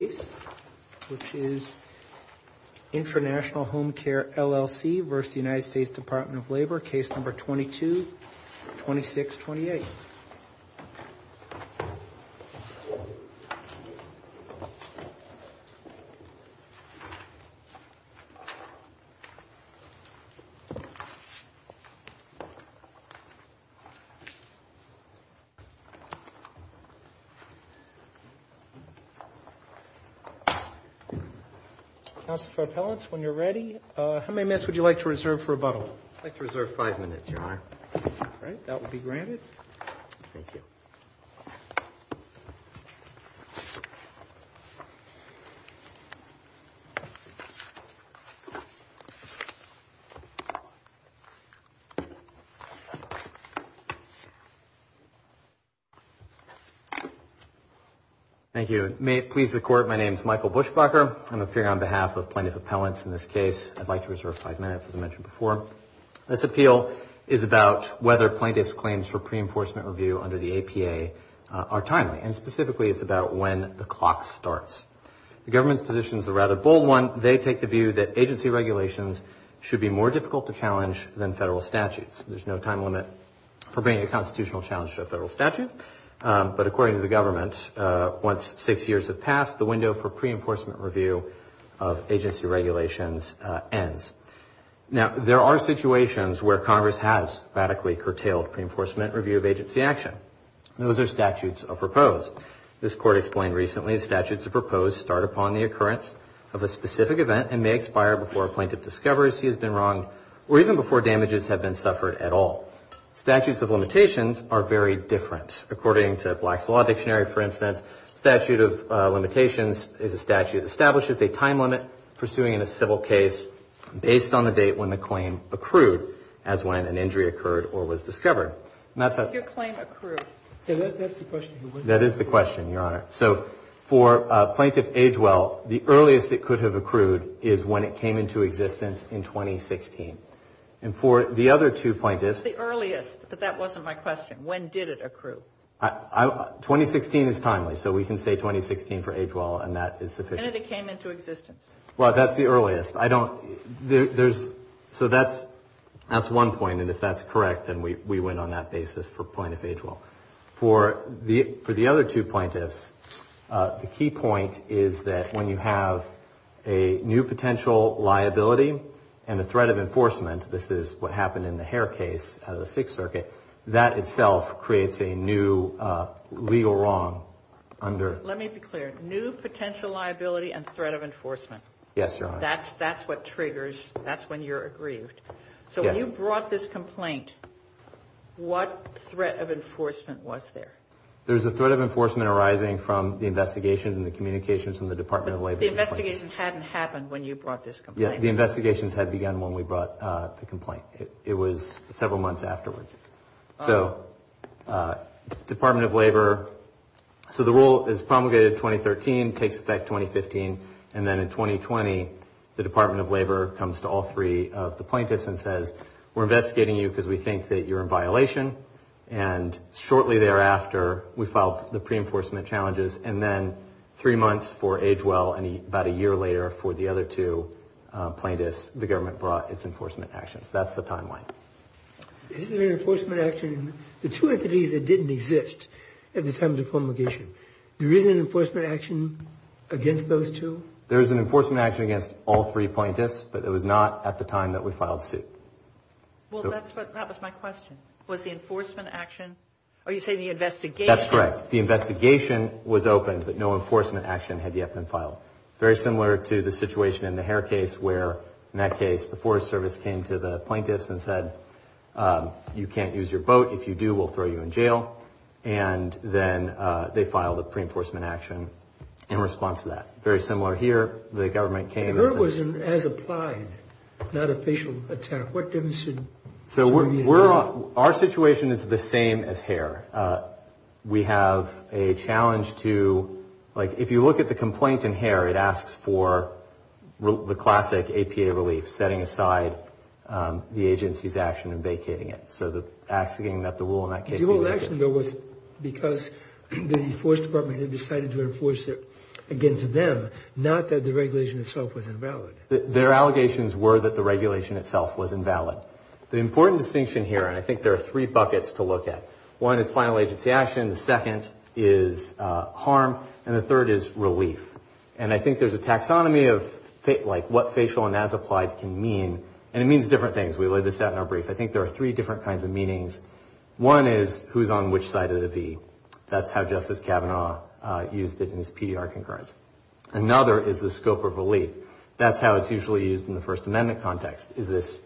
case number 222628. Council for Appellants, when you're ready, how many minutes would you like to reserve for rebuttal? I'd like to reserve five minutes, Your Honor. All right, that will be granted. Thank you. Thank you. May it please the Court, my name is Michael Buschbacher. I'm appearing on behalf of Plaintiff Appellants in this case. I'd like to reserve five minutes, as I mentioned before. This appeal is about whether plaintiff's claims for pre-enforcement review under the APA are timely. And specifically, it's about when the clock starts. The government's position is a rather bold one. They take the view that agency regulations should be more difficult to challenge than federal statutes. There's no time limit for bringing a constitutional challenge to a federal statute. But according to the government, once six years have passed, the window for pre-enforcement review of agency regulations ends. Now, there are situations where Congress has radically curtailed pre-enforcement review of agency action. Those are statutes of repose. This Court explained recently, statutes of repose start upon the occurrence of a specific event and may expire before a plaintiff discovers he has been wronged, or even before damages have been suffered at all. Statutes of limitations are very different. According to Black's Law Dictionary, for instance, statute of limitations is a statute that establishes a time limit pursuing in a civil case based on the date when the claim accrued, as when an injury occurred or was discovered. And that's how... Your claim accrued. That's the question. That is the question, Your Honor. So, for Plaintiff Agewell, the earliest it could have accrued is when it came into existence in 2016. And for the other two plaintiffs... The earliest, but that wasn't my question. When did it accrue? 2016 is timely, so we can say 2016 for Agewell, and that is sufficient. When did it came into existence? Well, that's the earliest. I don't... There's... So that's one point, and if that's correct, then we win on that basis for Plaintiff Agewell. For the other two plaintiffs, the key point is that when you have a new potential liability and a threat of enforcement, this is what happened in the Hare case out of the Sixth Circuit, that itself creates a new legal wrong under... Let me be clear. New potential liability and threat of enforcement. Yes, Your Honor. That's what triggers... That's when you're aggrieved. Yes. So when you brought this complaint, what threat of enforcement was there? There's a threat of enforcement arising from the investigations and the communications from the Department of Labor. But the investigation hadn't happened when you brought this complaint. Yeah, the investigations had begun when we brought the complaint. It was several months afterwards. So Department of Labor... So the rule is promulgated in 2013, takes effect 2015, and then in 2020, the Department of Labor comes to all three of the plaintiffs and says, we're investigating you because we think that you're in violation. And shortly thereafter, we filed the pre-enforcement challenges, and then three months for Agewell and about a year later for the other two plaintiffs, the government brought its enforcement actions. That's the timeline. Is there an enforcement action in the two entities that didn't exist at the time of the promulgation? There is an enforcement action against those two? There is an enforcement action against all three plaintiffs, but it was not at the time that we filed suit. Well, that was my question. Was the enforcement action... Are you saying the investigation... That's correct. The investigation was open, but no enforcement action had yet been filed. Very similar to the situation in the Hare case where, in that case, the Forest Service came to the plaintiffs and said, you can't use your boat. If you do, we'll throw you in jail. And then they filed a pre-enforcement action in response to that. Very similar here. The government came... Hare was as applied, not a facial attack. What demonstrated... So our situation is the same as Hare. We have a challenge to, like, if you look at the complaint in Hare, it asks for the classic APA relief, setting aside the agency's action and vacating it. So the asking that the rule in that case... The old action bill was because the enforcement department had decided to enforce it against them, not that the regulation itself was invalid. Their allegations were that the regulation itself was invalid. The important distinction here, and I think there are three buckets to look at, one is final agency action, the second is harm, and the third is relief. And I think there's a taxonomy of, like, what facial and as applied can mean, and it means different things. We laid this out in our brief. I think there are three different kinds of meanings. One is who's on which side of the V. That's how Justice Kavanaugh used it in his PDR concurrence. Another is the scope of relief. That's how it's usually used in the First Amendment context. Is this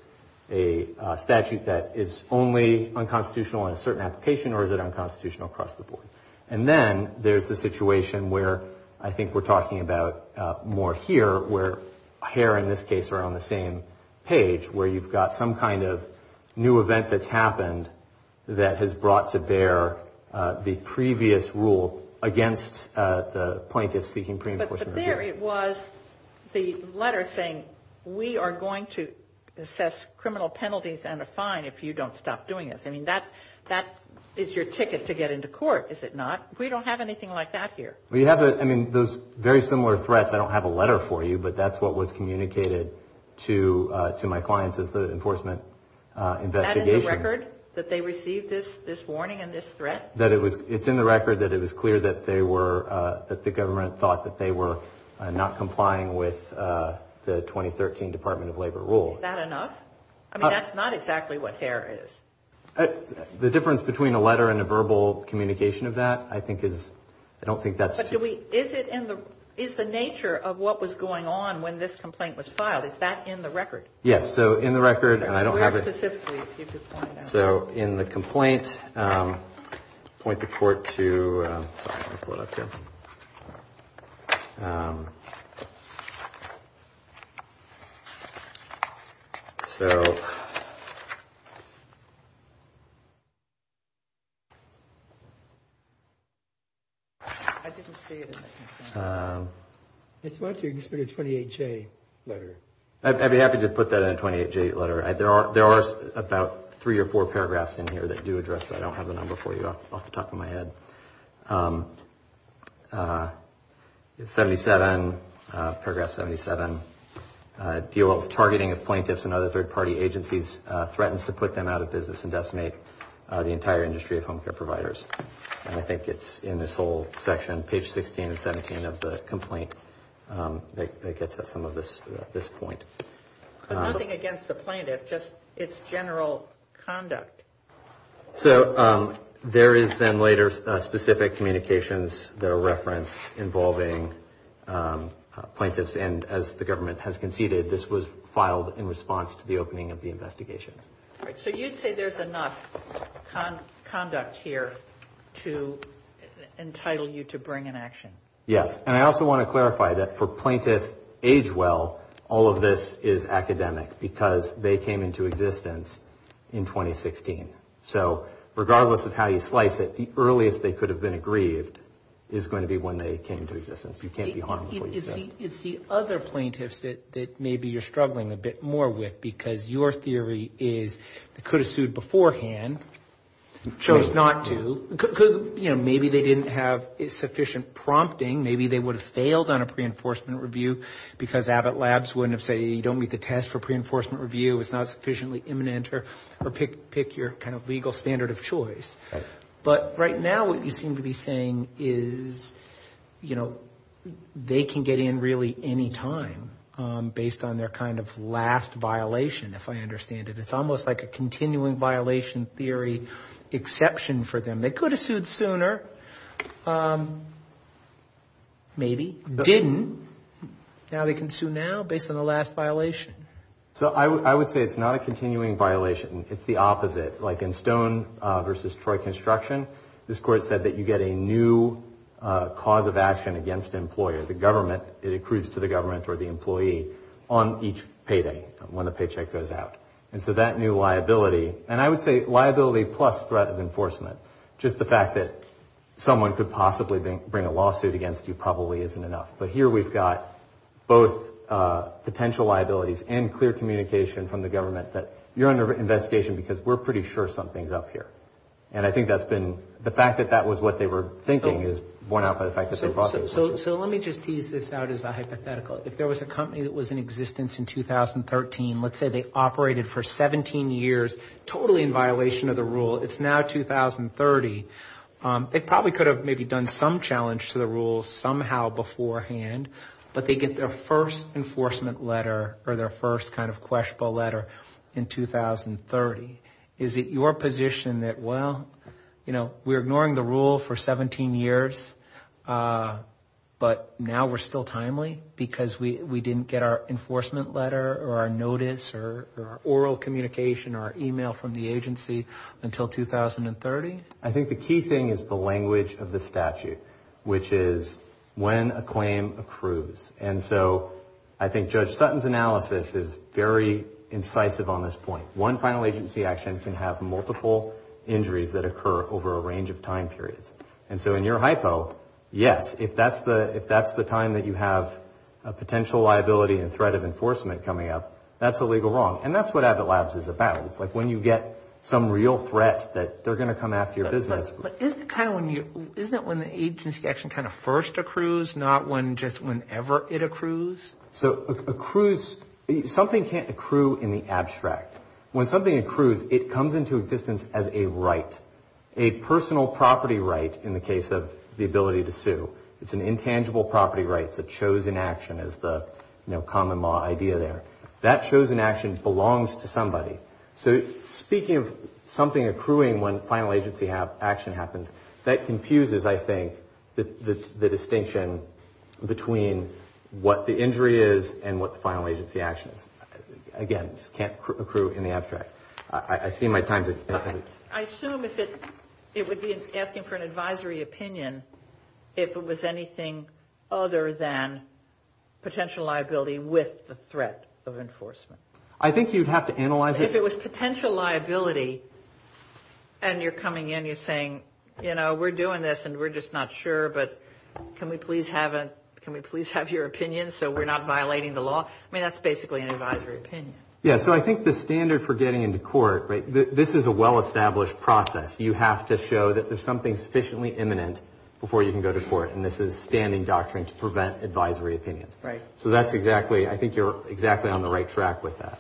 a statute that is only unconstitutional in a certain application, or is it unconstitutional across the board? And then there's the situation where I think we're talking about more here, where hair in this case are on the same page, where you've got some kind of new event that's happened that has brought to bear the previous rule against the plaintiff seeking pre-enforcement. But there it was, the letter saying, we are going to assess criminal penalties and a fine if you don't stop doing this. I mean, that is your ticket to get into court. Is it not? We don't have anything like that here. Well, you have those very similar threats. I don't have a letter for you, but that's what was communicated to my clients as the enforcement investigation. Is that in the record, that they received this warning and this threat? It's in the record that it was clear that they were, that the government thought that they were not complying with the 2013 Department of Labor rule. Is that enough? I mean, that's not exactly what hair is. The difference between a letter and a verbal communication of that I think is, I don't think that's. But do we, is it in the, is the nature of what was going on when this complaint was filed, is that in the record? Yes, so in the record, and I don't have it. Where specifically did you find that? Point the court to, sorry, let me pull it up here. So. I didn't see it. I thought you just put a 28-J letter. I'd be happy to put that in a 28-J letter. There are about three or four paragraphs in here that do address, I don't have the number for you off the top of my head. It's 77, paragraph 77, DOL's targeting of plaintiffs and other third-party agencies threatens to put them out of business and decimate the entire industry of home care providers. And I think it's in this whole section, page 16 and 17 of the complaint, that gets at some of this point. But nothing against the plaintiff, just its general conduct. So there is then later specific communications that are referenced involving plaintiffs, and as the government has conceded, this was filed in response to the opening of the investigations. All right, so you'd say there's enough conduct here to entitle you to bring an action. Yes. And I also want to clarify that for plaintiff age well, all of this is academic because they came into existence in 2016. So regardless of how you slice it, the earliest they could have been aggrieved is going to be when they came into existence. You can't be harmed before you exist. It's the other plaintiffs that maybe you're struggling a bit more with because your theory is they could have sued beforehand, chose not to. Maybe they didn't have sufficient prompting. Maybe they would have failed on a pre-enforcement review because Abbott Labs wouldn't have said you don't meet the test for pre-enforcement review, it's not sufficiently imminent, or pick your kind of legal standard of choice. But right now what you seem to be saying is, you know, they can get in really any time based on their kind of last violation, if I understand it. It's almost like a continuing violation theory exception for them. They could have sued sooner. Maybe. Didn't. Now they can sue now based on the last violation. So I would say it's not a continuing violation. It's the opposite. Like in Stone v. Troy Construction, this court said that you get a new cause of action against the employer, the government. It accrues to the government or the employee on each payday when the paycheck goes out. And so that new liability, and I would say liability plus threat of enforcement, just the fact that someone could possibly bring a lawsuit against you probably isn't enough. But here we've got both potential liabilities and clear communication from the government that you're under investigation because we're pretty sure something's up here. And I think that's been, the fact that that was what they were thinking is borne out by the fact that they brought this. So let me just tease this out as a hypothetical. If there was a company that was in existence in 2013, let's say they operated for 17 years, totally in violation of the rule. It's now 2030. They probably could have maybe done some challenge to the rules somehow beforehand, but they get their first enforcement letter or their first kind of questionable letter in 2030. Is it your position that, well, you know, we're ignoring the rule for 17 years, but now we're still timely because we didn't get our enforcement letter or our notice or our oral communication or our email from the agency until 2030? I think the key thing is the language of the statute, which is when a claim accrues. And so I think Judge Sutton's analysis is very incisive on this point. One final agency action can have multiple injuries that occur over a range of time periods. And so in your hypo, yes, if that's the time that you have a potential liability and threat of enforcement coming up, that's a legal wrong. And that's what Abbott Labs is about. It's like when you get some real threat that they're going to come after your business. But isn't it kind of when the agency action kind of first accrues, not just whenever it accrues? So accrues, something can't accrue in the abstract. When something accrues, it comes into existence as a right, a personal property right in the case of the ability to sue. It's an intangible property right, it's a chosen action as the common law idea there. That chosen action belongs to somebody. So speaking of something accruing when final agency action happens, that confuses, I think, the distinction between what the injury is and what the final agency action is. Again, it just can't accrue in the abstract. I see my time is up. I assume it would be asking for an advisory opinion if it was anything other than potential liability with the threat of enforcement. I think you'd have to analyze it. If it was potential liability and you're coming in, you're saying, you know, we're doing this and we're just not sure, but can we please have your opinion so we're not violating the law? I mean, that's basically an advisory opinion. Yeah, so I think the standard for getting into court, right, this is a well-established process. You have to show that there's something sufficiently imminent before you can go to court, and this is standing doctrine to prevent advisory opinions. Right. So that's exactly, I think you're exactly on the right track with that.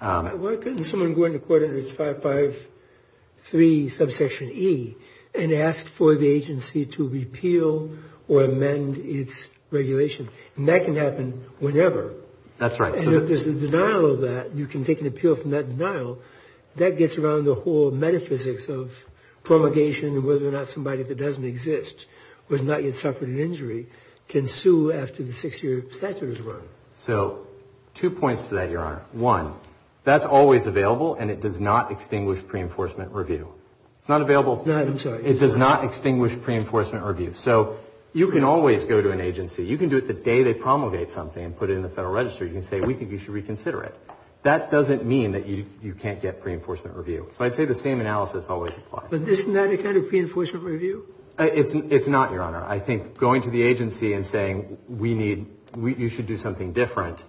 Why couldn't someone go into court under 553 subsection E and ask for the agency to repeal or amend its regulation? And that can happen whenever. That's right. And if there's a denial of that, you can take an appeal from that denial. That gets around the whole metaphysics of promulgation and whether or not somebody that doesn't exist or has not yet suffered an injury can sue after the six-year statute is run. So two points to that, Your Honor. One, that's always available and it does not extinguish pre-enforcement review. It's not available. No, I'm sorry. It does not extinguish pre-enforcement review. So you can always go to an agency. You can do it the day they promulgate something and put it in the Federal Register. You can say, we think you should reconsider it. That doesn't mean that you can't get pre-enforcement review. So I'd say the same analysis always applies. But isn't that a kind of pre-enforcement review? It's not, Your Honor. I think going to the agency and saying we need, you should do something different,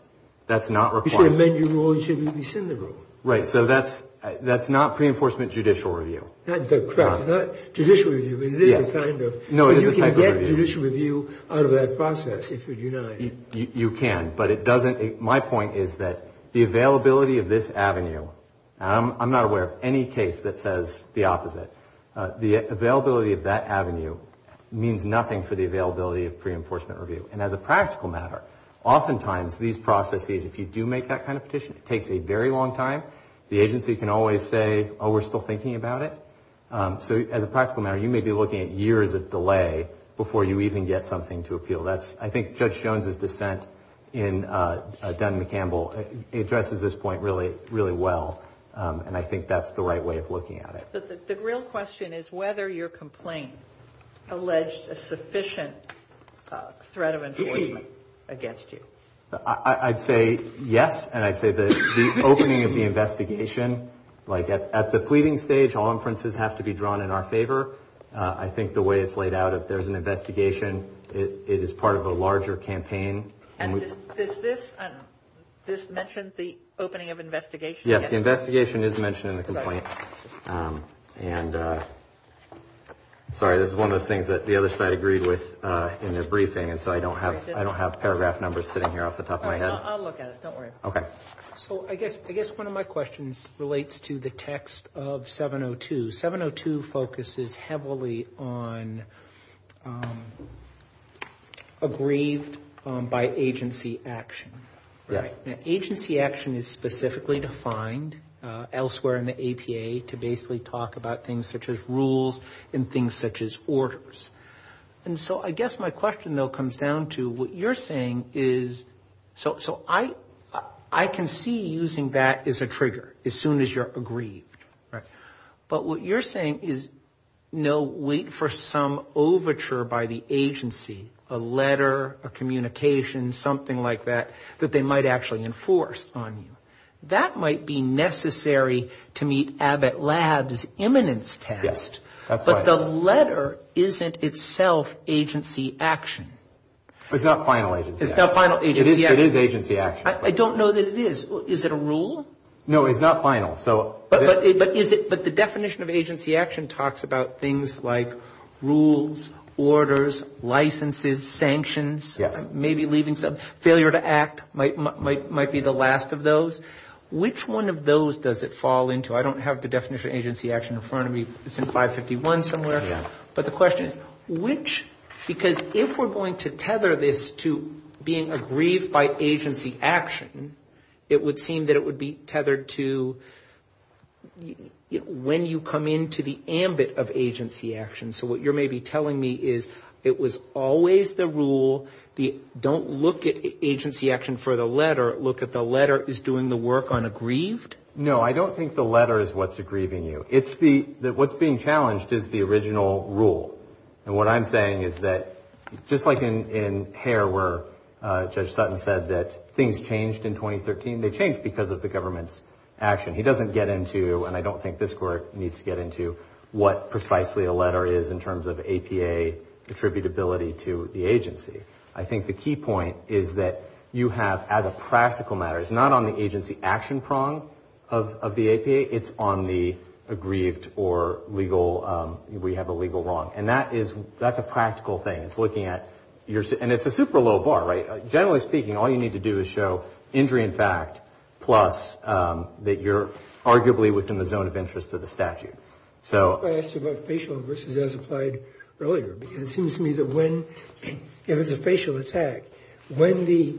that's not required. You should amend your rule. You should maybe rescind the rule. Right. So that's not pre-enforcement judicial review. Not judicial review. It is a kind of. No, it is a kind of review. So you can get judicial review out of that process if you deny it. You can. But it doesn't, my point is that the availability of this avenue, and I'm not aware of any case that says the opposite, the availability of that avenue means nothing for the availability of pre-enforcement review. And as a practical matter, oftentimes these processes, if you do make that kind of petition, it takes a very long time. The agency can always say, oh, we're still thinking about it. So as a practical matter, you may be looking at years of delay before you even get something to appeal. That's, I think Judge Jones' dissent in Dunn-McCampbell addresses this point really, really well. And I think that's the right way of looking at it. The real question is whether your complaint alleged a sufficient threat of enforcement against you. I'd say yes. And I'd say the opening of the investigation, like at the pleading stage, all inferences have to be drawn in our favor. I think the way it's laid out, if there's an investigation, it is part of a larger campaign. And does this mention the opening of investigation? Yes, the investigation is mentioned in the complaint. Sorry, this is one of those things that the other side agreed with in their briefing, and so I don't have paragraph numbers sitting here off the top of my head. I'll look at it. Don't worry about it. So I guess one of my questions relates to the text of 702. 702 focuses heavily on aggrieved by agency action. Yes. Agency action is specifically defined elsewhere in the APA to basically talk about things such as rules and things such as orders. And so I guess my question, though, comes down to what you're saying is, so I can see using that as a trigger as soon as you're aggrieved. Right. But what you're saying is, no, wait for some overture by the agency, a letter, a communication, something like that, that they might actually enforce on you. That might be necessary to meet Abbott Labs' imminence test. Yes, that's right. But the letter isn't itself agency action. It's not final agency action. It is agency action. I don't know that it is. Is it a rule? No, it's not final. But the definition of agency action talks about things like rules, orders, licenses, sanctions, maybe leaving some, failure to act might be the last of those. Which one of those does it fall into? I don't have the definition of agency action in front of me. It's in 551 somewhere. But the question is, which, because if we're going to tether this to being aggrieved by agency action, it would seem that it would be tethered to, when you come into the ambit of agency action. So what you're maybe telling me is, it was always the rule, don't look at agency action for the letter, look at the letter as doing the work on aggrieved? No, I don't think the letter is what's aggrieving you. It's the, what's being challenged is the original rule. And what I'm saying is that, just like in Hare where Judge Sutton said that things changed in 2013, they changed because of the government's action. He doesn't get into, and I don't think this court needs to get into, what precisely a letter is in terms of APA attributability to the agency. I think the key point is that you have, as a practical matter, it's not on the agency action prong of the APA, it's on the aggrieved or legal, we have a legal wrong. And that is, that's a practical thing. It's looking at, and it's a super low bar, right? To show injury in fact, plus that you're arguably within the zone of interest of the statute. I asked you about facial versus as applied earlier, because it seems to me that when, if it's a facial attack, when the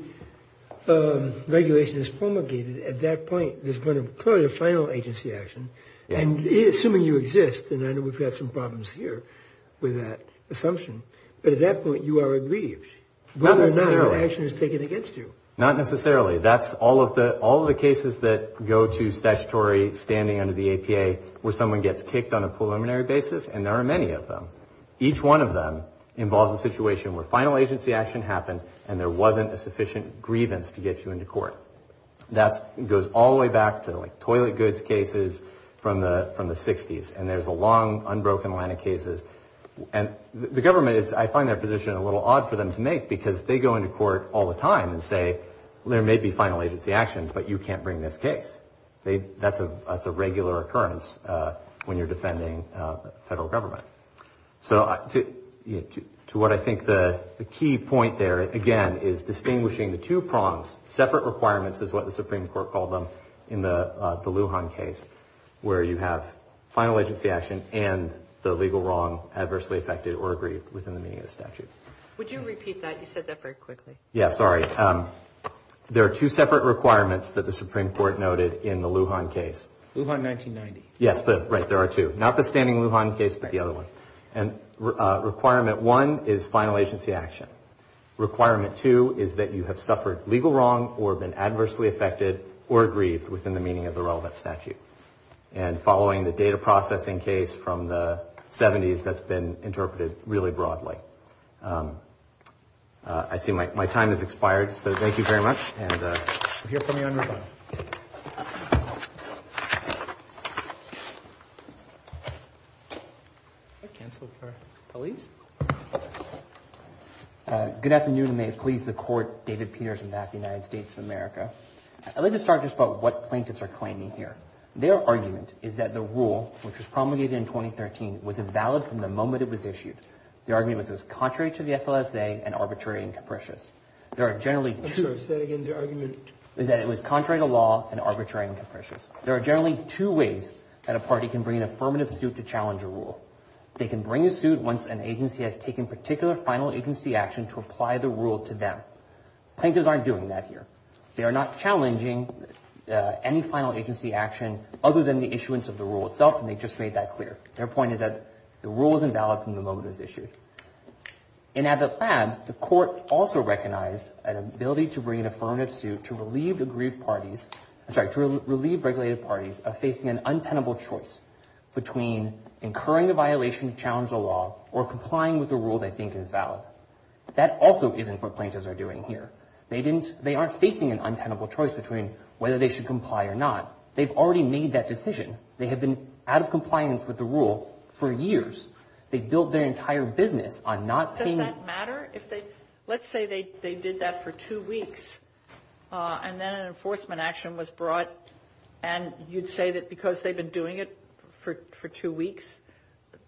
regulation is promulgated at that point, there's going to be clearly a final agency action. And assuming you exist, and I know we've got some problems here with that assumption, but at that point you are aggrieved. Not necessarily. The action is taken against you. Not necessarily. That's all of the cases that go to statutory, standing under the APA, where someone gets kicked on a preliminary basis, and there are many of them. Each one of them involves a situation where final agency action happened, and there wasn't a sufficient grievance to get you into court. That goes all the way back to like toilet goods cases from the 60s. And there's a long, unbroken line of cases. And the government, I find their position a little odd for them to make, go to court all the time and say, there may be final agency action, but you can't bring this case. That's a regular occurrence when you're defending federal government. So to what I think the key point there, again, is distinguishing the two prongs, separate requirements is what the Supreme Court called them in the Lujan case, where you have final agency action and the legal wrong, adversely affected or aggrieved within the meaning of the statute. Would you repeat that? You said that very quickly. Yeah, sorry. There are two separate requirements that the Supreme Court noted in the Lujan case. Lujan 1990. Yes, right, there are two. Not the standing Lujan case, but the other one. And requirement one is final agency action. Requirement two is that you have suffered legal wrong or been adversely affected or aggrieved within the meaning of the relevant statute. And following the data processing case from the 70s, that's been interpreted really broadly. I see my time has expired. So thank you very much. And we'll hear from you on your phone. I canceled for police. Good afternoon. May it please the Court. David Peters from the United States of America. I'd like to start just about what plaintiffs are claiming here. Their argument is that the rule, which was promulgated in 2013, was invalid from the moment it was issued. Their argument was it was contrary to the statute of the FLSA and arbitrary and capricious. There are generally two. Say that again. Their argument is that it was contrary to law and arbitrary and capricious. There are generally two ways that a party can bring an affirmative suit to challenge a rule. They can bring a suit once an agency has taken particular final agency action to apply the rule to them. Plaintiffs aren't doing that here. They are not challenging any final agency action other than the issuance of the rule itself, and they just made that clear. Their point is that the rule is invalid from the moment it was issued. In Abbott Labs, the Court also recognized an ability to bring an affirmative suit to relieve the grieved parties, sorry, to relieve regulated parties of facing an untenable choice between incurring a violation to challenge the law or complying with a rule they think is valid. That also isn't what plaintiffs are doing here. They aren't facing an untenable choice between whether they should comply or not. They've already made that decision. They have been out of compliance with the rule for years. They built their entire business on not paying. Does that matter? Let's say they did that for two weeks, and then an enforcement action was brought, and you'd say that because they've been doing it for two weeks,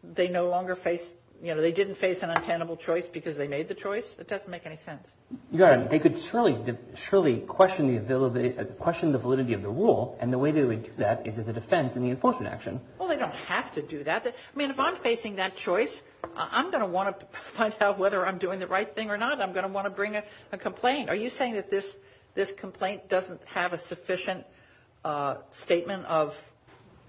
they no longer face, you know, they didn't face an untenable choice because they made the choice. It doesn't make any sense. You're right. They could surely question the validity of the rule, and the way they would do that is as a defense in the enforcement action. Well, they don't have to do that. I mean, if I'm facing that choice, I'm going to want to find out whether I'm doing the right thing or not. I'm going to want to bring a complaint. Are you saying that this complaint doesn't have a sufficient statement of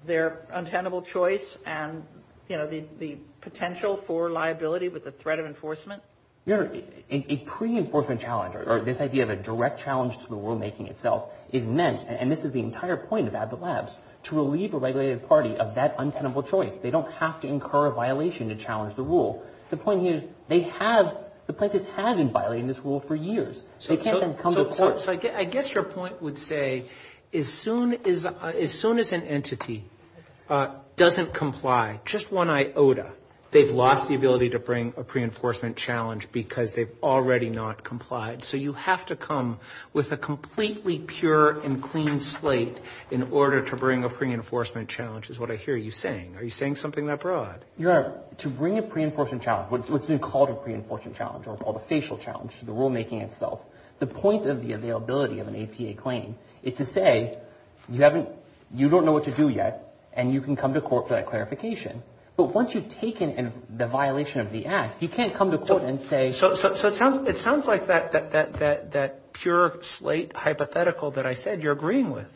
their untenable choice and, you know, the potential for liability with the threat of enforcement? Your Honor, a pre-enforcement challenge or this idea of a direct challenge to the rulemaking itself is meant, and this is the entire point of AdBoot Labs, to relieve a regulated party that doesn't have to incur a violation to challenge the rule. The point here is they have, the plaintiffs have been violating this rule for years. They can't then come to court. So I guess your point would say as soon as an entity doesn't comply, just one iota, they've lost the ability to bring a pre-enforcement challenge because they've already not complied. So you have to come with a completely pure and clean slate in order to bring a pre-enforcement challenge which is what I hear you saying. Are you saying something that broad? Your Honor, to bring a pre-enforcement challenge, what's been called a pre-enforcement challenge or called a facial challenge to the rulemaking itself, the point of the availability of an APA claim is to say you haven't, you don't know what to do yet and you can come to court for that clarification. But once you've taken the violation of the act, you can't come to court and say... So it sounds like that pure slate hypothetical that I said you're agreeing with.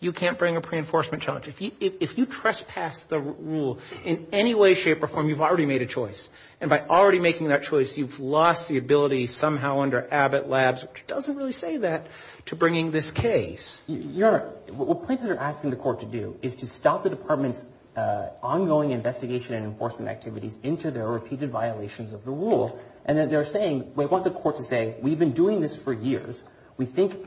You can't bring a pre-enforcement challenge. If you trespass the rule in any way, shape, or form, you've already made a choice. And by already making that choice, you've lost the ability somehow under Abbott Labs which doesn't really say that to bringing this case. Your Honor, what plaintiffs are asking the court to do is to stop the department's ongoing investigation and enforcement activities into their repeated violations of the rule and that they're saying, we want the court to say we've been doing this for years. We want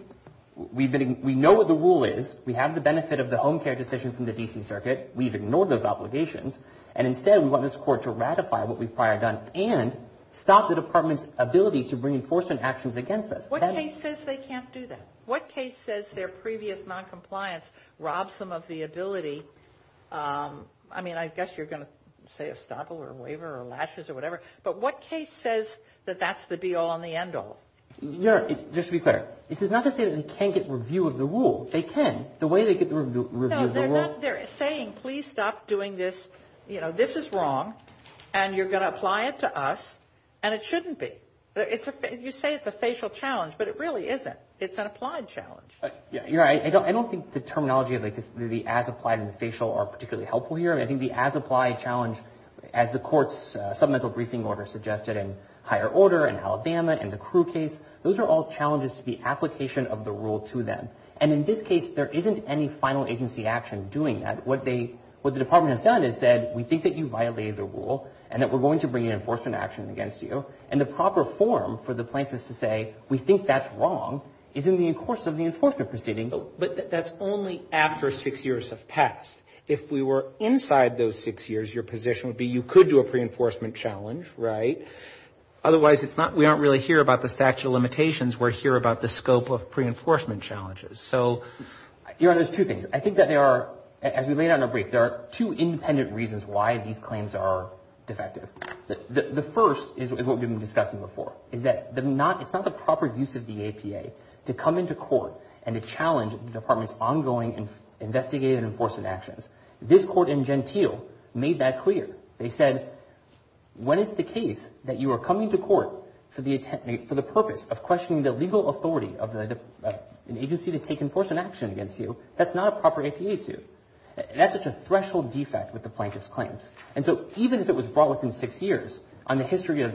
the benefit of the home care decision from the D.C. Circuit. We've ignored those obligations. And instead, we want this court to ratify what we've prior done and stop the department's ability to bring enforcement actions against us. What case says they can't do that? What case says their previous noncompliance robs them of the ability? I mean, I guess you're going to say a stop or a waiver or lashes or whatever. But what case says that that's the be-all and the end-all? Your Honor, just to be clear, I think it's a review of the rule. No, they're saying please stop doing this. You know, this is wrong. And you're going to apply it to us. And it shouldn't be. You say it's a facial challenge, but it really isn't. It's an applied challenge. Your Honor, I don't think the terminology of the as-applied and the facial are particularly helpful here. I think the as-applied challenge, as the court's submental briefing order suggested and higher order and Alabama and the Crew case, those are all challenges to the final agency action doing that. What the Department has done is said we think that you violated the rule and that we're going to bring an enforcement action against you. And the proper form for the plaintiffs to say we think that's wrong is in the course of the enforcement proceeding. But that's only after six years have passed. If we were inside those six years, your position would be you could do a pre-enforcement challenge, right? Otherwise, it's not we aren't really here about the statute of limitations. We're here about the scope of pre-enforcement challenges. So, your Honor, there's two things. I think that there are, as we laid out in our brief, there are two independent reasons why these claims are defective. The first is what we've been discussing before is that it's not the proper use of the APA to come into court and to challenge the Department's ongoing investigative enforcement actions. This court in Gentile made that clear. They said when it's the case that you are coming to court for the purpose of questioning the legal authority of an agency to take enforcement action against you, that's not a proper APA suit. That's such a threshold defect with the plaintiff's claims. And so, even if it was brought within six years on the history of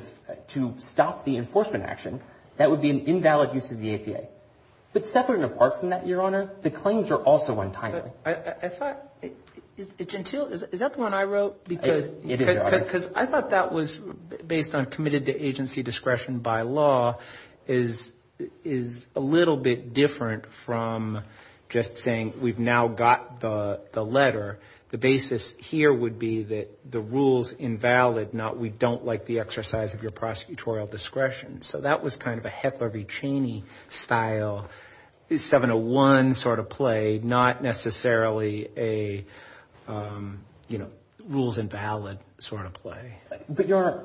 to stop the enforcement action, that would be an invalid use of the APA. But separate and apart from that, your Honor, the claims are also untimely. I thought, is Gentile, is that the one I wrote? It is, Your Honor. Because I thought that was based on committed to agency discretion by law is a little bit different from just saying, we've now got the letter. The basis here would be that the rule's invalid, not we don't like the exercise of your prosecutorial discretion. So that was kind of a Heckler v. Cheney style, 701 sort of play, not necessarily a, you know, rules invalid sort of play. But, Your Honor,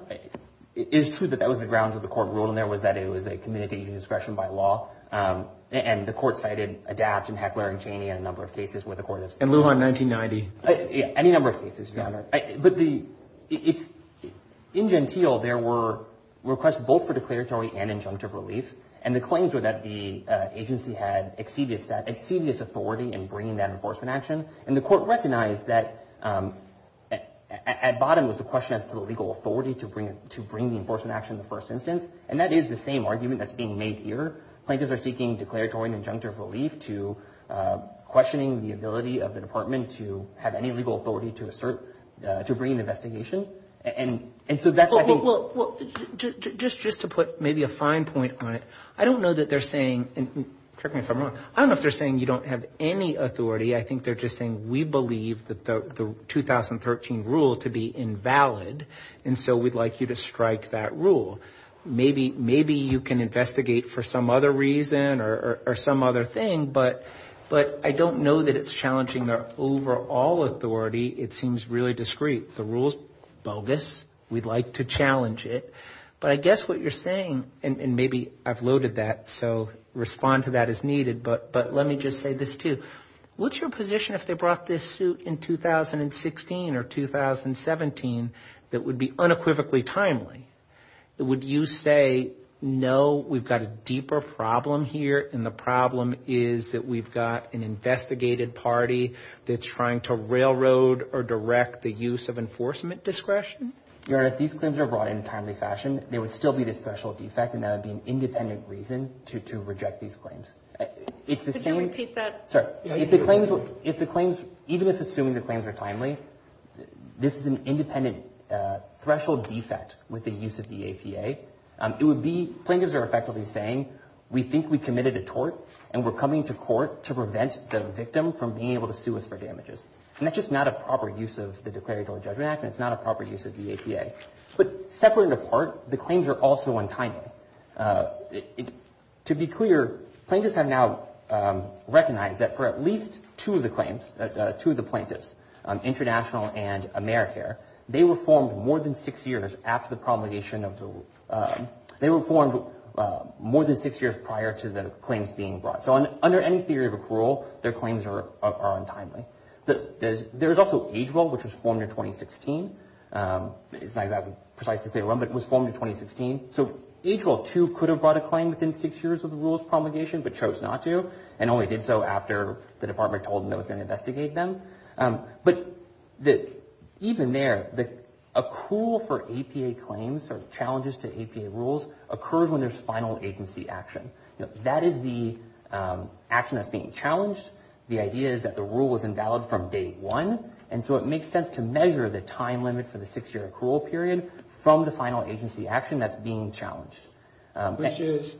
it is true that that was the grounds of the court rule, and there was that it was a committed to agency discretion by law. And the court cited ADAPT and Heckler and Cheney in a number of cases where the court has. And Lujan 1990. Any number of cases, Your Honor. But the, in Gentile there were requests both for declaratory and injunctive relief. And the claims were that the agency had exceeded its authority in bringing that enforcement action. And the court recognized that at bottom was a question as to the legal authority to bring the enforcement action in the first instance. And that is the same argument that's being made here. Plaintiffs are seeking declaratory and injunctive relief to questioning the ability of the department to have any legal authority to assert, to bring an investigation. And so that's why I think. Well, just to put maybe a fine point on it. I don't know that they're saying, and correct me if I'm wrong. I don't know if they're saying you don't have any authority. I think they're just saying we believe that the 2013 rule was a rule to be invalid. And so we'd like you to strike that rule. Maybe you can investigate for some other reason or some other thing. But I don't know that it's challenging their overall authority. It seems really discreet. The rule's bogus. We'd like to challenge it. But I guess what you're saying, and maybe I've loaded that. So respond to that as needed. But let me just say this too. What's your position if they brought this suit in 2016 or 2017 that would be unequivocally timely? Would you say, no, we've got a deeper problem here and the problem is that we've got an investigated party that's trying to railroad or direct the use of enforcement discretion? Your Honor, if these claims are brought in a timely fashion, there would still be this special defect and that would be an independent reason to reject these claims. Could you repeat that? Sorry. If the claims, even if assuming the claims are timely, this is an independent threshold defect with the use of the APA. It would be plaintiffs are effectively saying, we think we committed a tort and we're coming to court to prevent the victim from being able to sue us for damages. And that's just not a proper use of the Declaratory Judgment Act and it's not a proper use of the APA. But separate and apart, the claims are also untimely. To be clear, plaintiffs have now recognized that for at least two of the claims, two of the plaintiffs, International and AmeriCare, they were formed more than six years after the promulgation of the, they were formed more than six years prior to the claims being brought. So under any theory of a parole, their claims are untimely. There's also Age Well, which was formed in 2016. It's not exactly precise to say when, but it was formed in 2016. So Age Well, too, could have brought a claim within six years of the rules promulgation but chose not to and only did so after the department told them it was going to investigate them. But even there, the accrual for APA claims or challenges to APA rules occurs when there's final agency action. That is the action that's being challenged. The idea is that the rule was invalid from day one and so it makes sense to measure the time limit for the six-year accrual period from the final agency action that's being challenged. Which is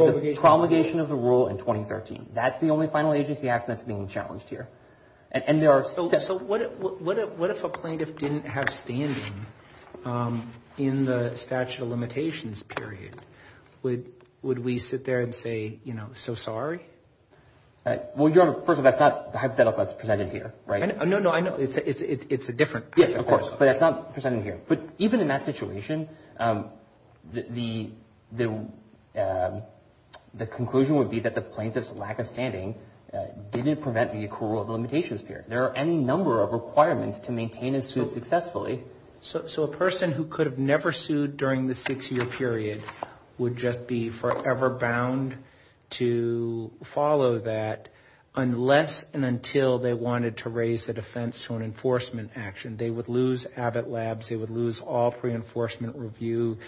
the promulgation of the rule in 2013. That's the only final agency action that's being challenged here. And there are... So what if a plaintiff didn't have standing in the statute of limitations period? Would we sit there and say, you know, so sorry? Well, first of all, that's not the hypothetical that's presented here, right? No, no, I know. It's a different hypothetical. Yes, of course. But that's not presented here. But even in that situation, the conclusion would be that the plaintiff's lack of standing didn't prevent the accrual of limitations period. There are any number of requirements to maintain a suit successfully. So a person who could have never sued during the six-year period would just be forever bound to follow that unless and until they wanted to raise the defense to an enforcement action. They would lose Abbott Labs. They would lose all pre-enforcement review.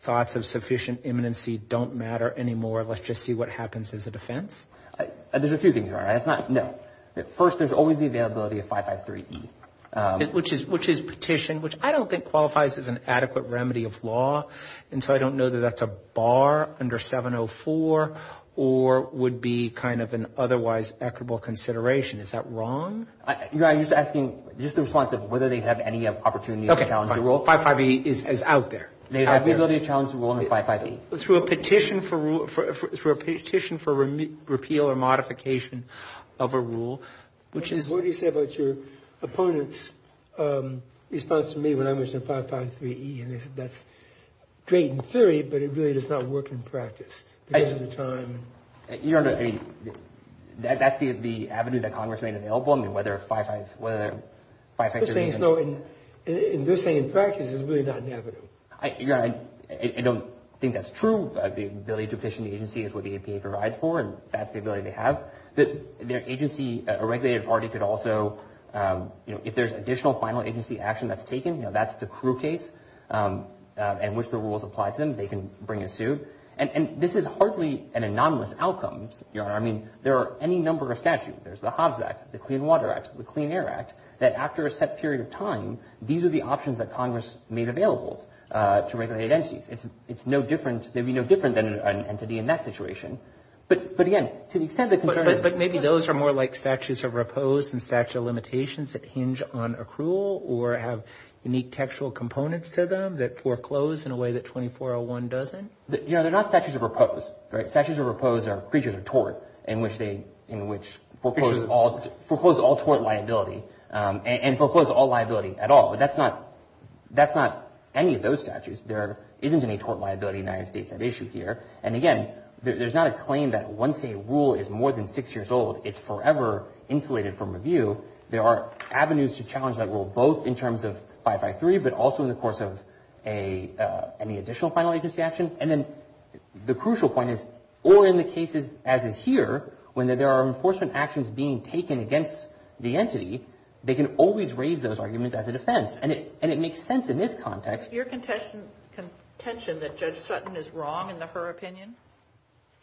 Thoughts of sufficient imminency don't matter anymore. Let's just see what happens as a defense. There's a few things, right? No. First, there's always the availability of 553E. Which is petition, which I don't think qualifies as an adequate remedy of law. And so I don't know that that's a bar under 704 or would be kind of an otherwise equitable consideration. Is that wrong? You're asking just the response of whether they have any opportunity to challenge the rule. 55E is out there. They have the ability to challenge the rule under 55E. Through a petition for repeal or modification of a rule, which is... What do you say about your opponent's response to me when I mentioned 553E? And they said that's great in theory, but it really does not work in practice because of the time... You don't know. I mean, that's the avenue that Congress made available. I mean, whether 55... They're saying in practice it's really not an avenue. I don't think that's true. The ability to petition the agency is what the APA provides for, and that's the ability they have. Their agency, a regulated party, could also... If there's additional final agency action that's taken, that's the crew case in which the rules apply to them. They can bring a suit. And this is hardly an anonymous outcome. I mean, there are any number of statutes. There's the Hobbs Act, the Clean Water Act, the Clean Air Act, that after a set period of time, these are the options that Congress made available to regulated entities. It's no different... They'd be no different than an entity in that situation. But again, to the extent that... But maybe those are more like statutes of repose and statute of limitations that hinge on accrual or have unique textual components to them that foreclose in a way that 2401 doesn't? You know, they're not statutes of repose, right? Statutes of repose are creatures of tort in which they... In which foreclose all tort liability and foreclose all liability at all. But that's not... That's not any of those statutes. There isn't any tort liability in the United States at issue here. And again, there's not a claim that once a rule is more than six years old, it's forever insulated from review. There are avenues to challenge that rule both in terms of 553, but also in the course of any additional final agency action. And then the crucial point is or in the cases as is here when there are enforcement actions being taken against the entity, they can always raise those arguments as a defense. And it makes sense in this context. Your contention that Judge Sutton is wrong in her opinion?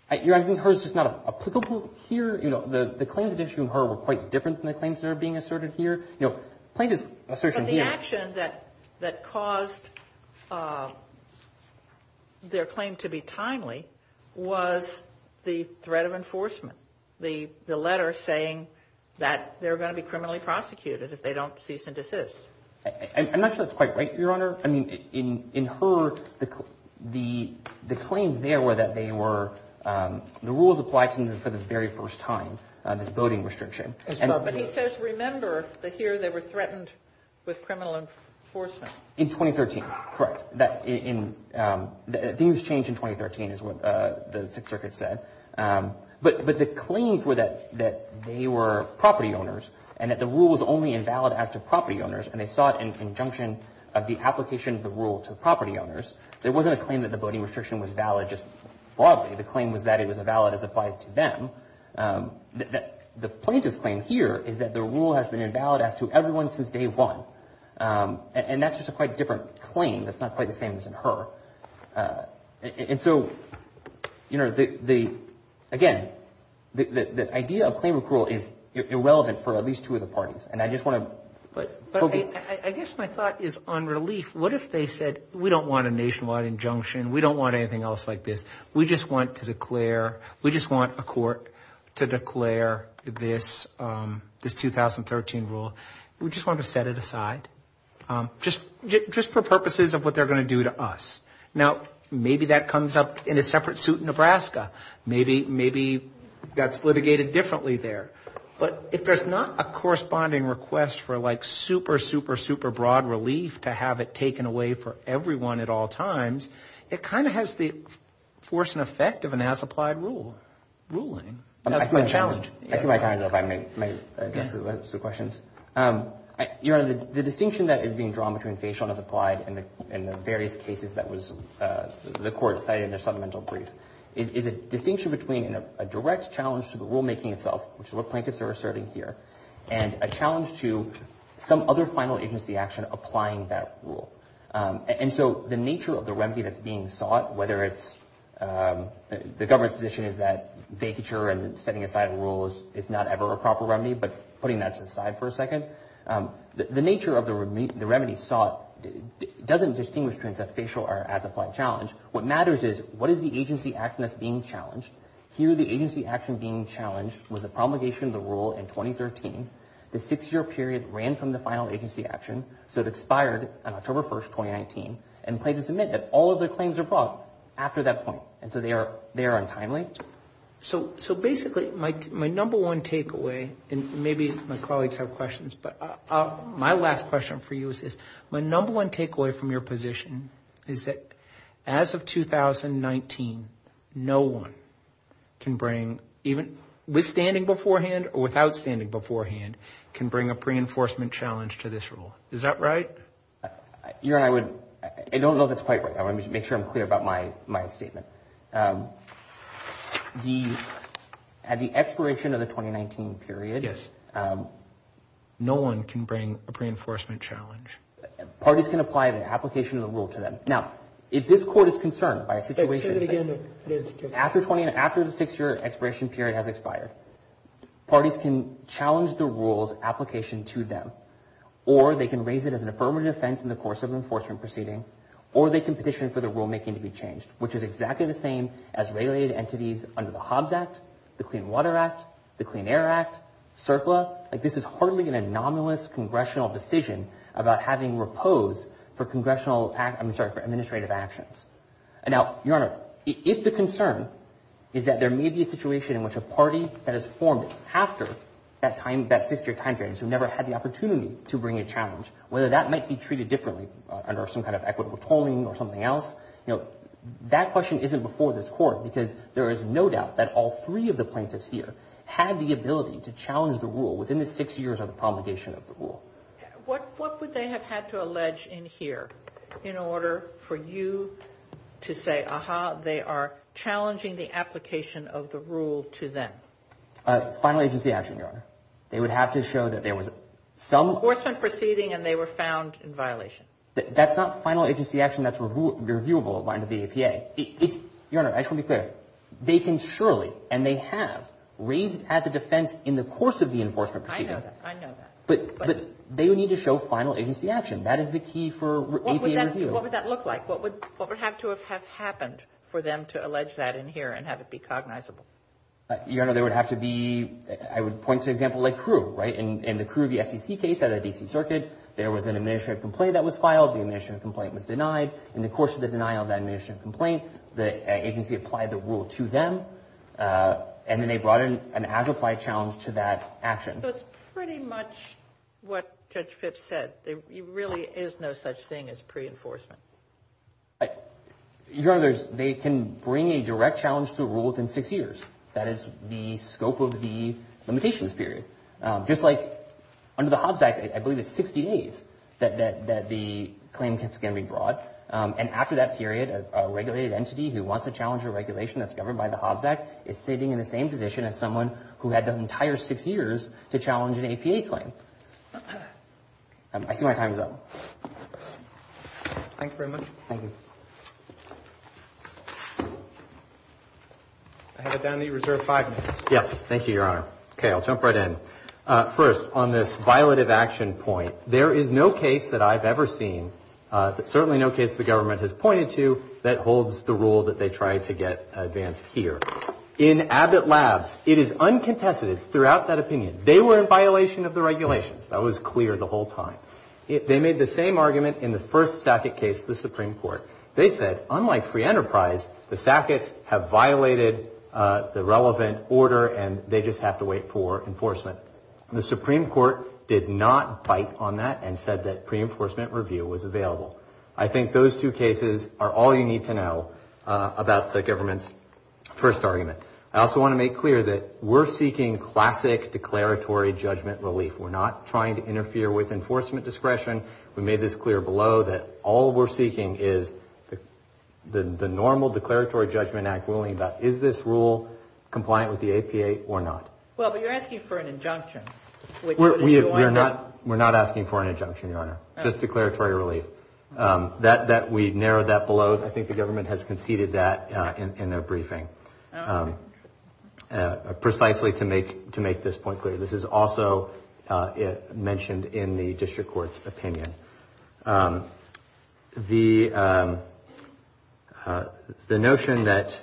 I think hers is not applicable here. You know, the claims at issue in her were quite different than the claims that are being asserted here. You know, plaintiff's assertion here... But the action that caused their claim to be timely was the threat of enforcement. The letter saying that they're going to be criminally prosecuted if they don't cease and desist. I'm not sure that's quite right, Your Honor. I mean, in her, the claims there were that they were... The rules apply to them for the very first time, this voting restriction. But he says remember that here they were threatened with criminal enforcement. In 2013. Correct. That in... Things changed in 2013 is what the Sixth Circuit said. But the claims were that they were property owners and that the rule was only invalid as to property owners and they saw it in conjunction of the application of the rule to property owners. There wasn't a claim that the voting restriction was valid just broadly. The claim was that it was valid as applied to them. The plaintiff's claim here is that the rule has been invalid as to everyone since day one. And that's just a quite different claim that's not quite the same as in her. And so, you know, the... Again, the idea of claim approval is irrelevant for at least two of the parties. And I just want to... But... I guess my thought is on relief. What if they said, we don't want a nationwide injunction, we don't want anything else like this. We just want to declare... We just want a court to declare this... This 2013 rule. We just want to set it aside. Just... Just for purposes of what they're going to do to us. Now, maybe that comes up in a separate suit in Nebraska. Maybe... Maybe that's litigated differently there. But if there's not a corresponding request for, like, super, super, super broad relief to have it taken away for everyone at all times, it kind of has the force and effect of an as-applied rule. Ruling. That's my challenge. I see my time is up. I may address the questions. Your Honor, the distinction that is being drawn between facial and as-applied in the various cases that was... The court decided in their supplemental brief is a distinction between a direct challenge to the rulemaking itself, which is what plaintiffs are asserting here, and a challenge to some other final agency action applying that rule. And so the nature of the remedy that's being sought, whether it's... The government's position is that vacature and setting aside a rule is not ever a proper remedy, but putting that to the side for a second, the nature of the remedy sought doesn't distinguish between a facial or as-applied challenge. What matters is, what is the agency action that's being challenged? Here, the agency action being challenged was a promulgation of the rule in 2013. The six-year period ran from the final agency action, so it expired on October 1st, 2019, and plaintiffs admit that all of their claims are brought after that point, and so they are untimely. So basically, my number one takeaway, and maybe my colleagues for you is this. My number one takeaway from your position is that as of 2019, no one can bring even a single rule to the court that is not a proper remedy. No statement withstanding beforehand or without standing beforehand can bring a pre-enforcement challenge to this rule. Is that right? Your Honor, I don't know if that's quite right. I want to make sure I'm clear about my statement. At the expiration of the 2019 period, no one can bring a pre-enforcement challenge. Parties can apply the application of the rule to them. Now, if this court is concerned by a situation after the six-year expiration period has expired, parties can challenge the rule's application to them, or they can raise it as an affirmative offense in the course of an enforcement proceeding, or they can petition for the rulemaking to be changed, which is exactly the same as regulated entities under the Hobbs Act, the Clean Water Act, the Clean Air Act, CERCLA. This is hardly an anomalous congressional decision about having repose for administrative actions. Now, Your Honor, if the concern is that there may be a situation in which a party that is formed after that six-year time period has never had the opportunity to bring a challenge, whether that might be treated differently under some kind of equitable tolling or something else, that question isn't before this court because there is no doubt that all three of the plaintiffs here had the ability to challenge the rule within the six years of the promulgation of the rule. What would they have had to allege in here in order for you to say, aha, they are challenging the application of the rule to them? Final agency action, Your Honor. They would have to show that there was some Enforcement proceeding and they were found in violation. That's not final agency action that's reviewable by the APA. Your Honor, I shall be clear. They can surely, and they have, raise it as a defense in the course of the enforcement proceeding. I know that. I know that. But they would need to show final agency action. That is the key for APA review. What would that look like? What would have to have happened for them to allege that in here and have it be cognizable? Your Honor, there would have to be, I would point to an example like CRU. Right? In the CRU, the SEC case at the D.C. Circuit, there was an administrative complaint that was filed. The administrative complaint was denied. In the course of the denial of that administrative complaint, the agency applied the rule to them and then they brought in to that action. So it's pretty much what Judge Phipps said. There really is no such thing as pre-enforcement. Your Honor, there is no pre-enforcement but they can bring a direct challenge to a rule within six years. That is the scope of the limitations period. Just like under the Hobbs Act, I believe it's 60 days that the claim is going to be brought. And after that period, a regulated entity who wants to challenge a regulation that's governed by the Hobbs Act is sitting in the same position I see my time is up. Thank you very much. Thank you. Thank you. Thank you. Thank you. Thank you. Thank you. Thank you. Thank you. Thank you. Thank you. Thank you. Thank you. Thank you. Thank you. Thank you. Thank you. I have it down to your reserve five minutes. Yes. Thank you, Your Honor. Okay, I'll jump right in. First, on this violative action point, there is no case that I've ever seen, certainly no case the government has pointed to that holds the rule that they try to get advanced here. In Abbott Labs, it is uncontested throughout that opinion. They were in violation of the regulations. That was clear the whole time. They made the same argument in the first Sackett case to the Supreme Court. They said, unlike Free Enterprise, the Sacketts have violated the relevant order and they just have to wait for enforcement. The Supreme Court did not bite on that and said that pre-enforcement review was available. I think those two cases are all you need to know about the government's first argument. I also want to make clear that we're seeking classic declaratory judgment relief. We're not trying to interfere with enforcement discretion. We made this clear below that all we're seeking is the normal declaratory judgment act ruling about, is this rule compliant with the APA or not? Well, but you're asking for an injunction. We're not asking for an injunction, Your Honor. Just declaratory relief. We narrowed that below. I think the government has conceded that in their briefing. Precisely to make this point clear. This is also mentioned in the district court's opinion. The notion that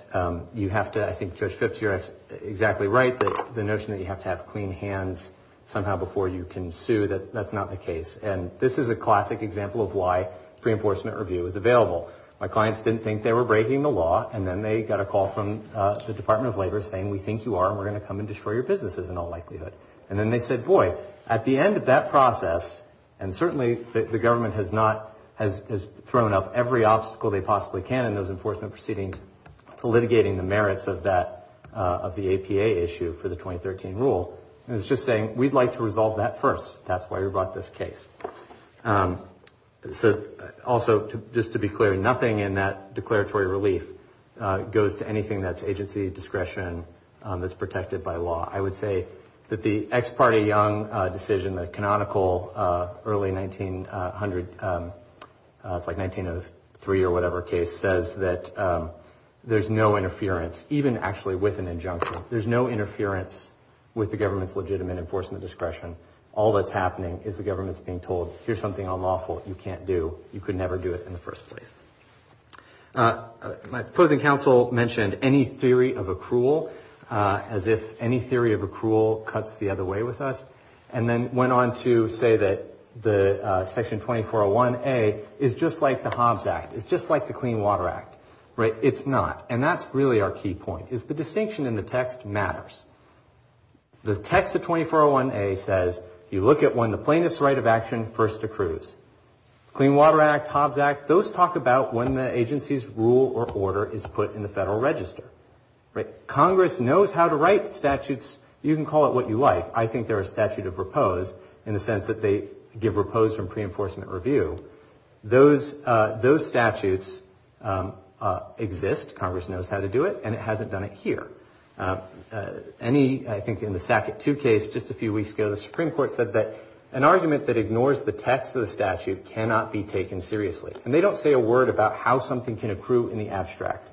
you have to, I think Judge Phipps, you're exactly right, the notion that you have to have clean hands somehow before you can sue, that's not the case. And this is a classic example of why pre-enforcement review is available. My clients didn't think they were breaking the law and then they got a call from the Department of Labor saying, we think you are and we're going to come and destroy your businesses in all likelihood. And then they said, boy, at the end of that process, and certainly the government has not, has thrown up every obstacle they possibly can in those enforcement proceedings to litigating the merits of that, of the APA issue for the 2013 rule. And it's just saying, we'd like to resolve that first. That's why we brought this case. Also, just to be clear, nothing in that declaratory relief goes to anything that's agency, discretion, that's protected by law. I would say that the ex parte Young decision, the canonical early 1900, it's like 1903 or whatever case, says that there's no interference, even actually with an injunction. There's no interference with the government's legitimate enforcement discretion. All that's happening is the government's being told, here's something unlawful you can't do. You could never do it in the first place. My opposing counsel mentioned any theory of accrual as if any theory of accrual cuts the other way with us. And then went on to say that the Section 2401A is just like the Hobbs Act. It's just like the Clean Water Act. It's not. And that's really our key point, is the distinction in the text matters. The text of 2401A says, you look at when the plaintiff's right of action first accrues. Clean Water Act, Hobbs Act, those talk about when the agency's rule or order is put in the Federal Register. Right? Congress knows how to write statutes. You can call it what you like. I think they're a statute of repose in the sense that they give repose from pre-enforcement review. Those statutes exist. Congress knows how to do it and it hasn't done it here. Any, I think in the Sackett 2 case just a few weeks ago, the Supreme Court said that an argument that ignores the text of the statute cannot be taken seriously. And they don't say a word about how something can accrue in the abstract.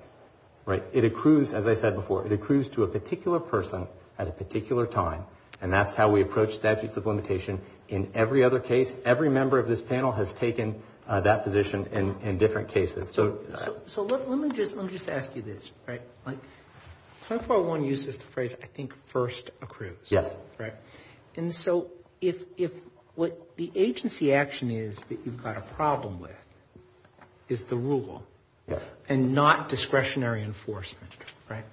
Right? It accrues, as I said before, it accrues to a particular person at a particular time and that's how we approach statutes of limitation in every other case. Every member of this panel has taken that position in different cases. So let me just ask you this. Right? 2401 uses the phrase, I think, first accrues. Yes. Right? And so if what the agency action is that you've got a problem with is the rule and not discretionary enforcement. Right?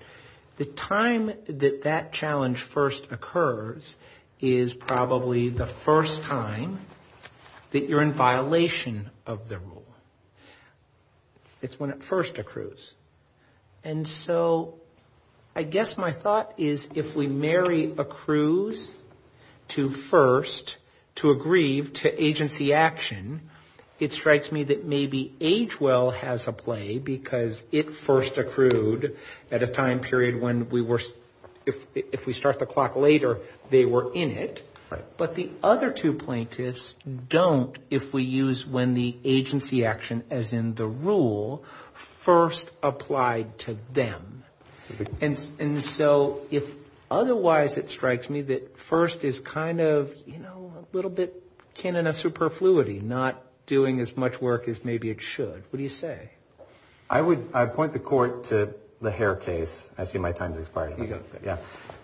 The time that that challenge first occurs is probably the first time that you're in violation of the rule. It's when it first accrues. And so I guess my thought is if we marry first accrues to first to aggrieve to agency action, it strikes me that maybe age well has a play because it first accrued at a time period when we were if we start the clock later they were in it. But the other two plaintiffs don't if we use when the agency action as in the rule first applied to them. And so if otherwise it strikes me that first is kind of you know a little bit kin in a superfluity not doing as much work as maybe it should. What do you say? I would I'd point the court to the hair case. I see my time's expired.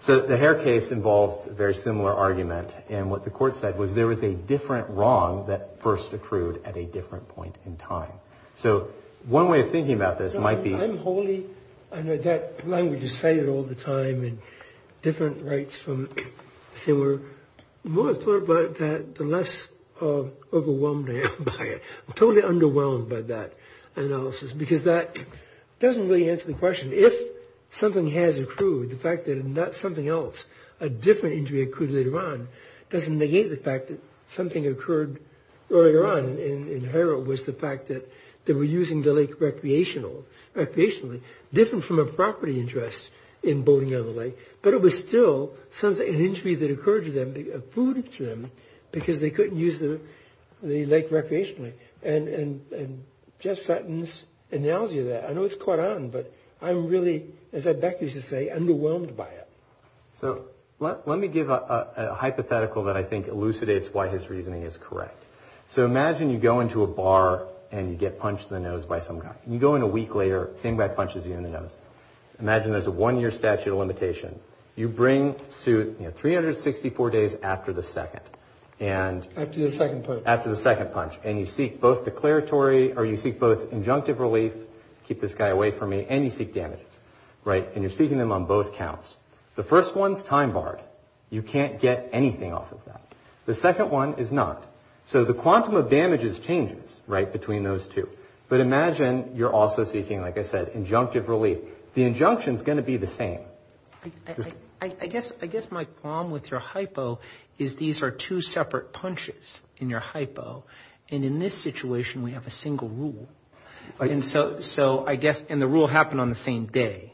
So the hair case involved a very similar argument and what the court said was there was a different wrong that first accrued at a different point in time. So one way of thinking about this might be I'm wholly I know that language is cited all the time and different rights from similar more thought about that the less overwhelmed I am by it. I'm totally underwhelmed by that analysis because that doesn't really answer the question. If something has accrued the fact that not something else a different injury occurred later on doesn't negate the fact that something occurred earlier on in Hera was the fact that they were using the lake recreationally different from a property interest in boating out of the lake but it was still an injury that occurred to them because they couldn't use the lake recreationally and Jeff Sutton's analogy of that I know it's caught on but I'm really as I'd like you to say underwhelmed by it. So let me give a hypothetical that I think elucidates why his reasoning is correct. So imagine you go into a bar and you get punched in the nose by some guy. You go in a week later, the same guy punches you in the nose. Imagine there's a one year statute of limitation. You bring suit 364 days after the second. After the second punch. And you seek both punches. The first one's time barred. You can't get anything off of that. The second one is not. So the quantum of damages changes between those two. But imagine you're also seeking injunctive relief. The injunction is going to be the same. I guess my problem with your hypo is these are two separate punches in your hypo and in this situation we have a single rule. And the rule happened on the same day.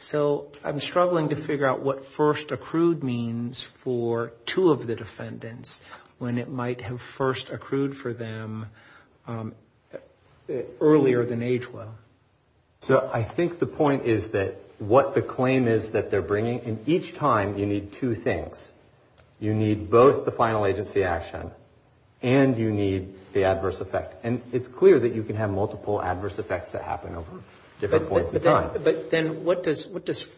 So I'm struggling to figure out what first accrued means for two of the defendants when it might have first accrued for them earlier than age well. So I think the point is that what the claim is that they're bringing, and each time you need two things. You need both the final agency action and you need the adverse effect. And it's clear that you can have multiple adverse effects that happen over different points in time. But then what does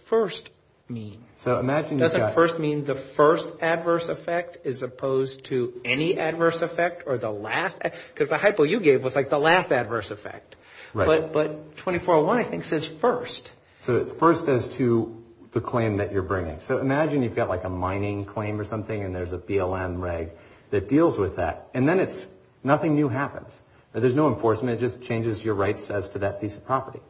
first mean? So imagine you've got Doesn't first mean the first adverse effect as opposed to any adverse effect or the last because the hypo you gave was like the last adverse effect. But 2401 I think says first. So it's first as to the claim that you're bringing. So imagine you've got like a mining claim or something and there's a BLM reg that deals with that. And then it's nothing new happens. There's no enforcement. It just changes your rights as to that piece of property.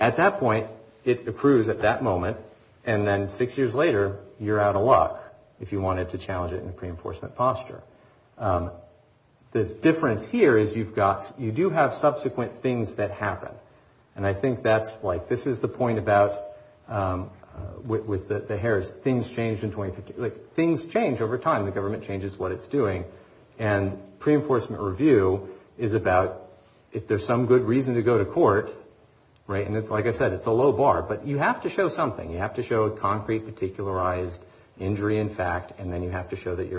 At that point it approves at that moment and then six years later you're out of luck if you wanted to challenge it in a pre-enforcement posture. The difference here is you've got you do have subsequent things that do. The distinction I think is about if there's some good reason to go to court. Like I said it's a low bar. But you have to show something. You have to show concrete particularized injury and fact and then you have to show them in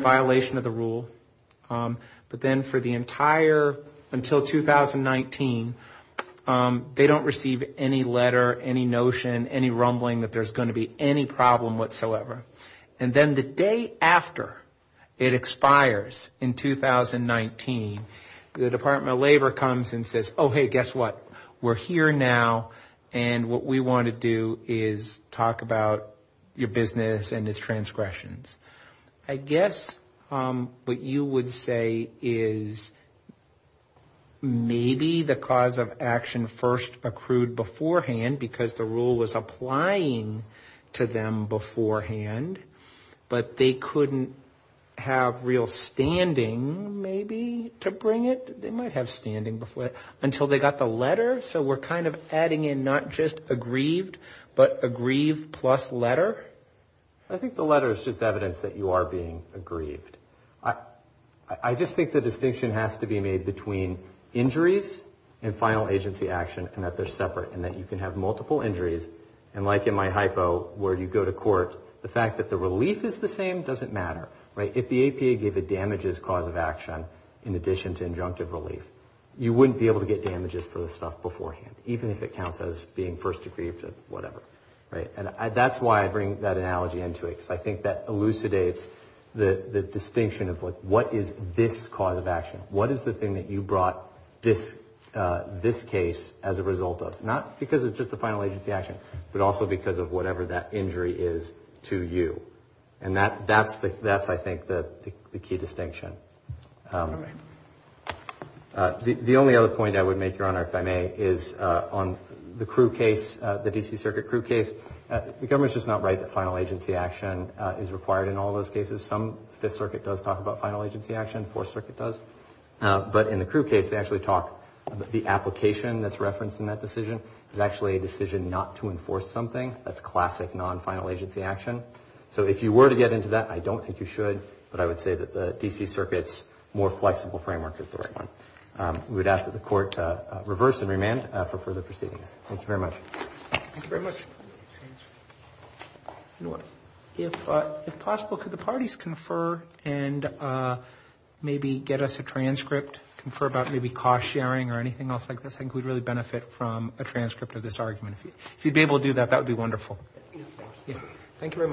violation of the rule. Let's just say there's a violation of the rule but until 2019 they don't receive any letter or notion or rumbling that there's going to be any problem whatsoever. The day after it expires in 2019 the Department of Justice issue a letter saying we're here now and what we want to do is talk about your business and its transgressions. I guess what you would say is maybe the cause of action first accrued beforehand because the rule was applying to them beforehand but they didn't receive a letter so we're kind of adding in not just aggrieved but aggrieved plus letter? I think the letter is just evidence that you are being aggrieved. I just think the distinction has to be made between injuries and final agency action and that they're separate and that you can have multiple and conclude them beforehand even if it counts as being first aggrieved. That's why I bring that analogy in. I think that elucidates the distinction of what is this cause of action, what is the thing you brought this case as a result of? Not necessarily what you brought this case as a result of. I don't you should but I would say the DC circuit framework is the right one. We would ask them to make a request to the court for further proceedings. Thank you very much. If possible, could the parties confer and maybe get us a transcript about cost sharing or anything else like this. I think we would really benefit from a transcript of this argument. If you would be able to do that, that would be wonderful. Thank you very much.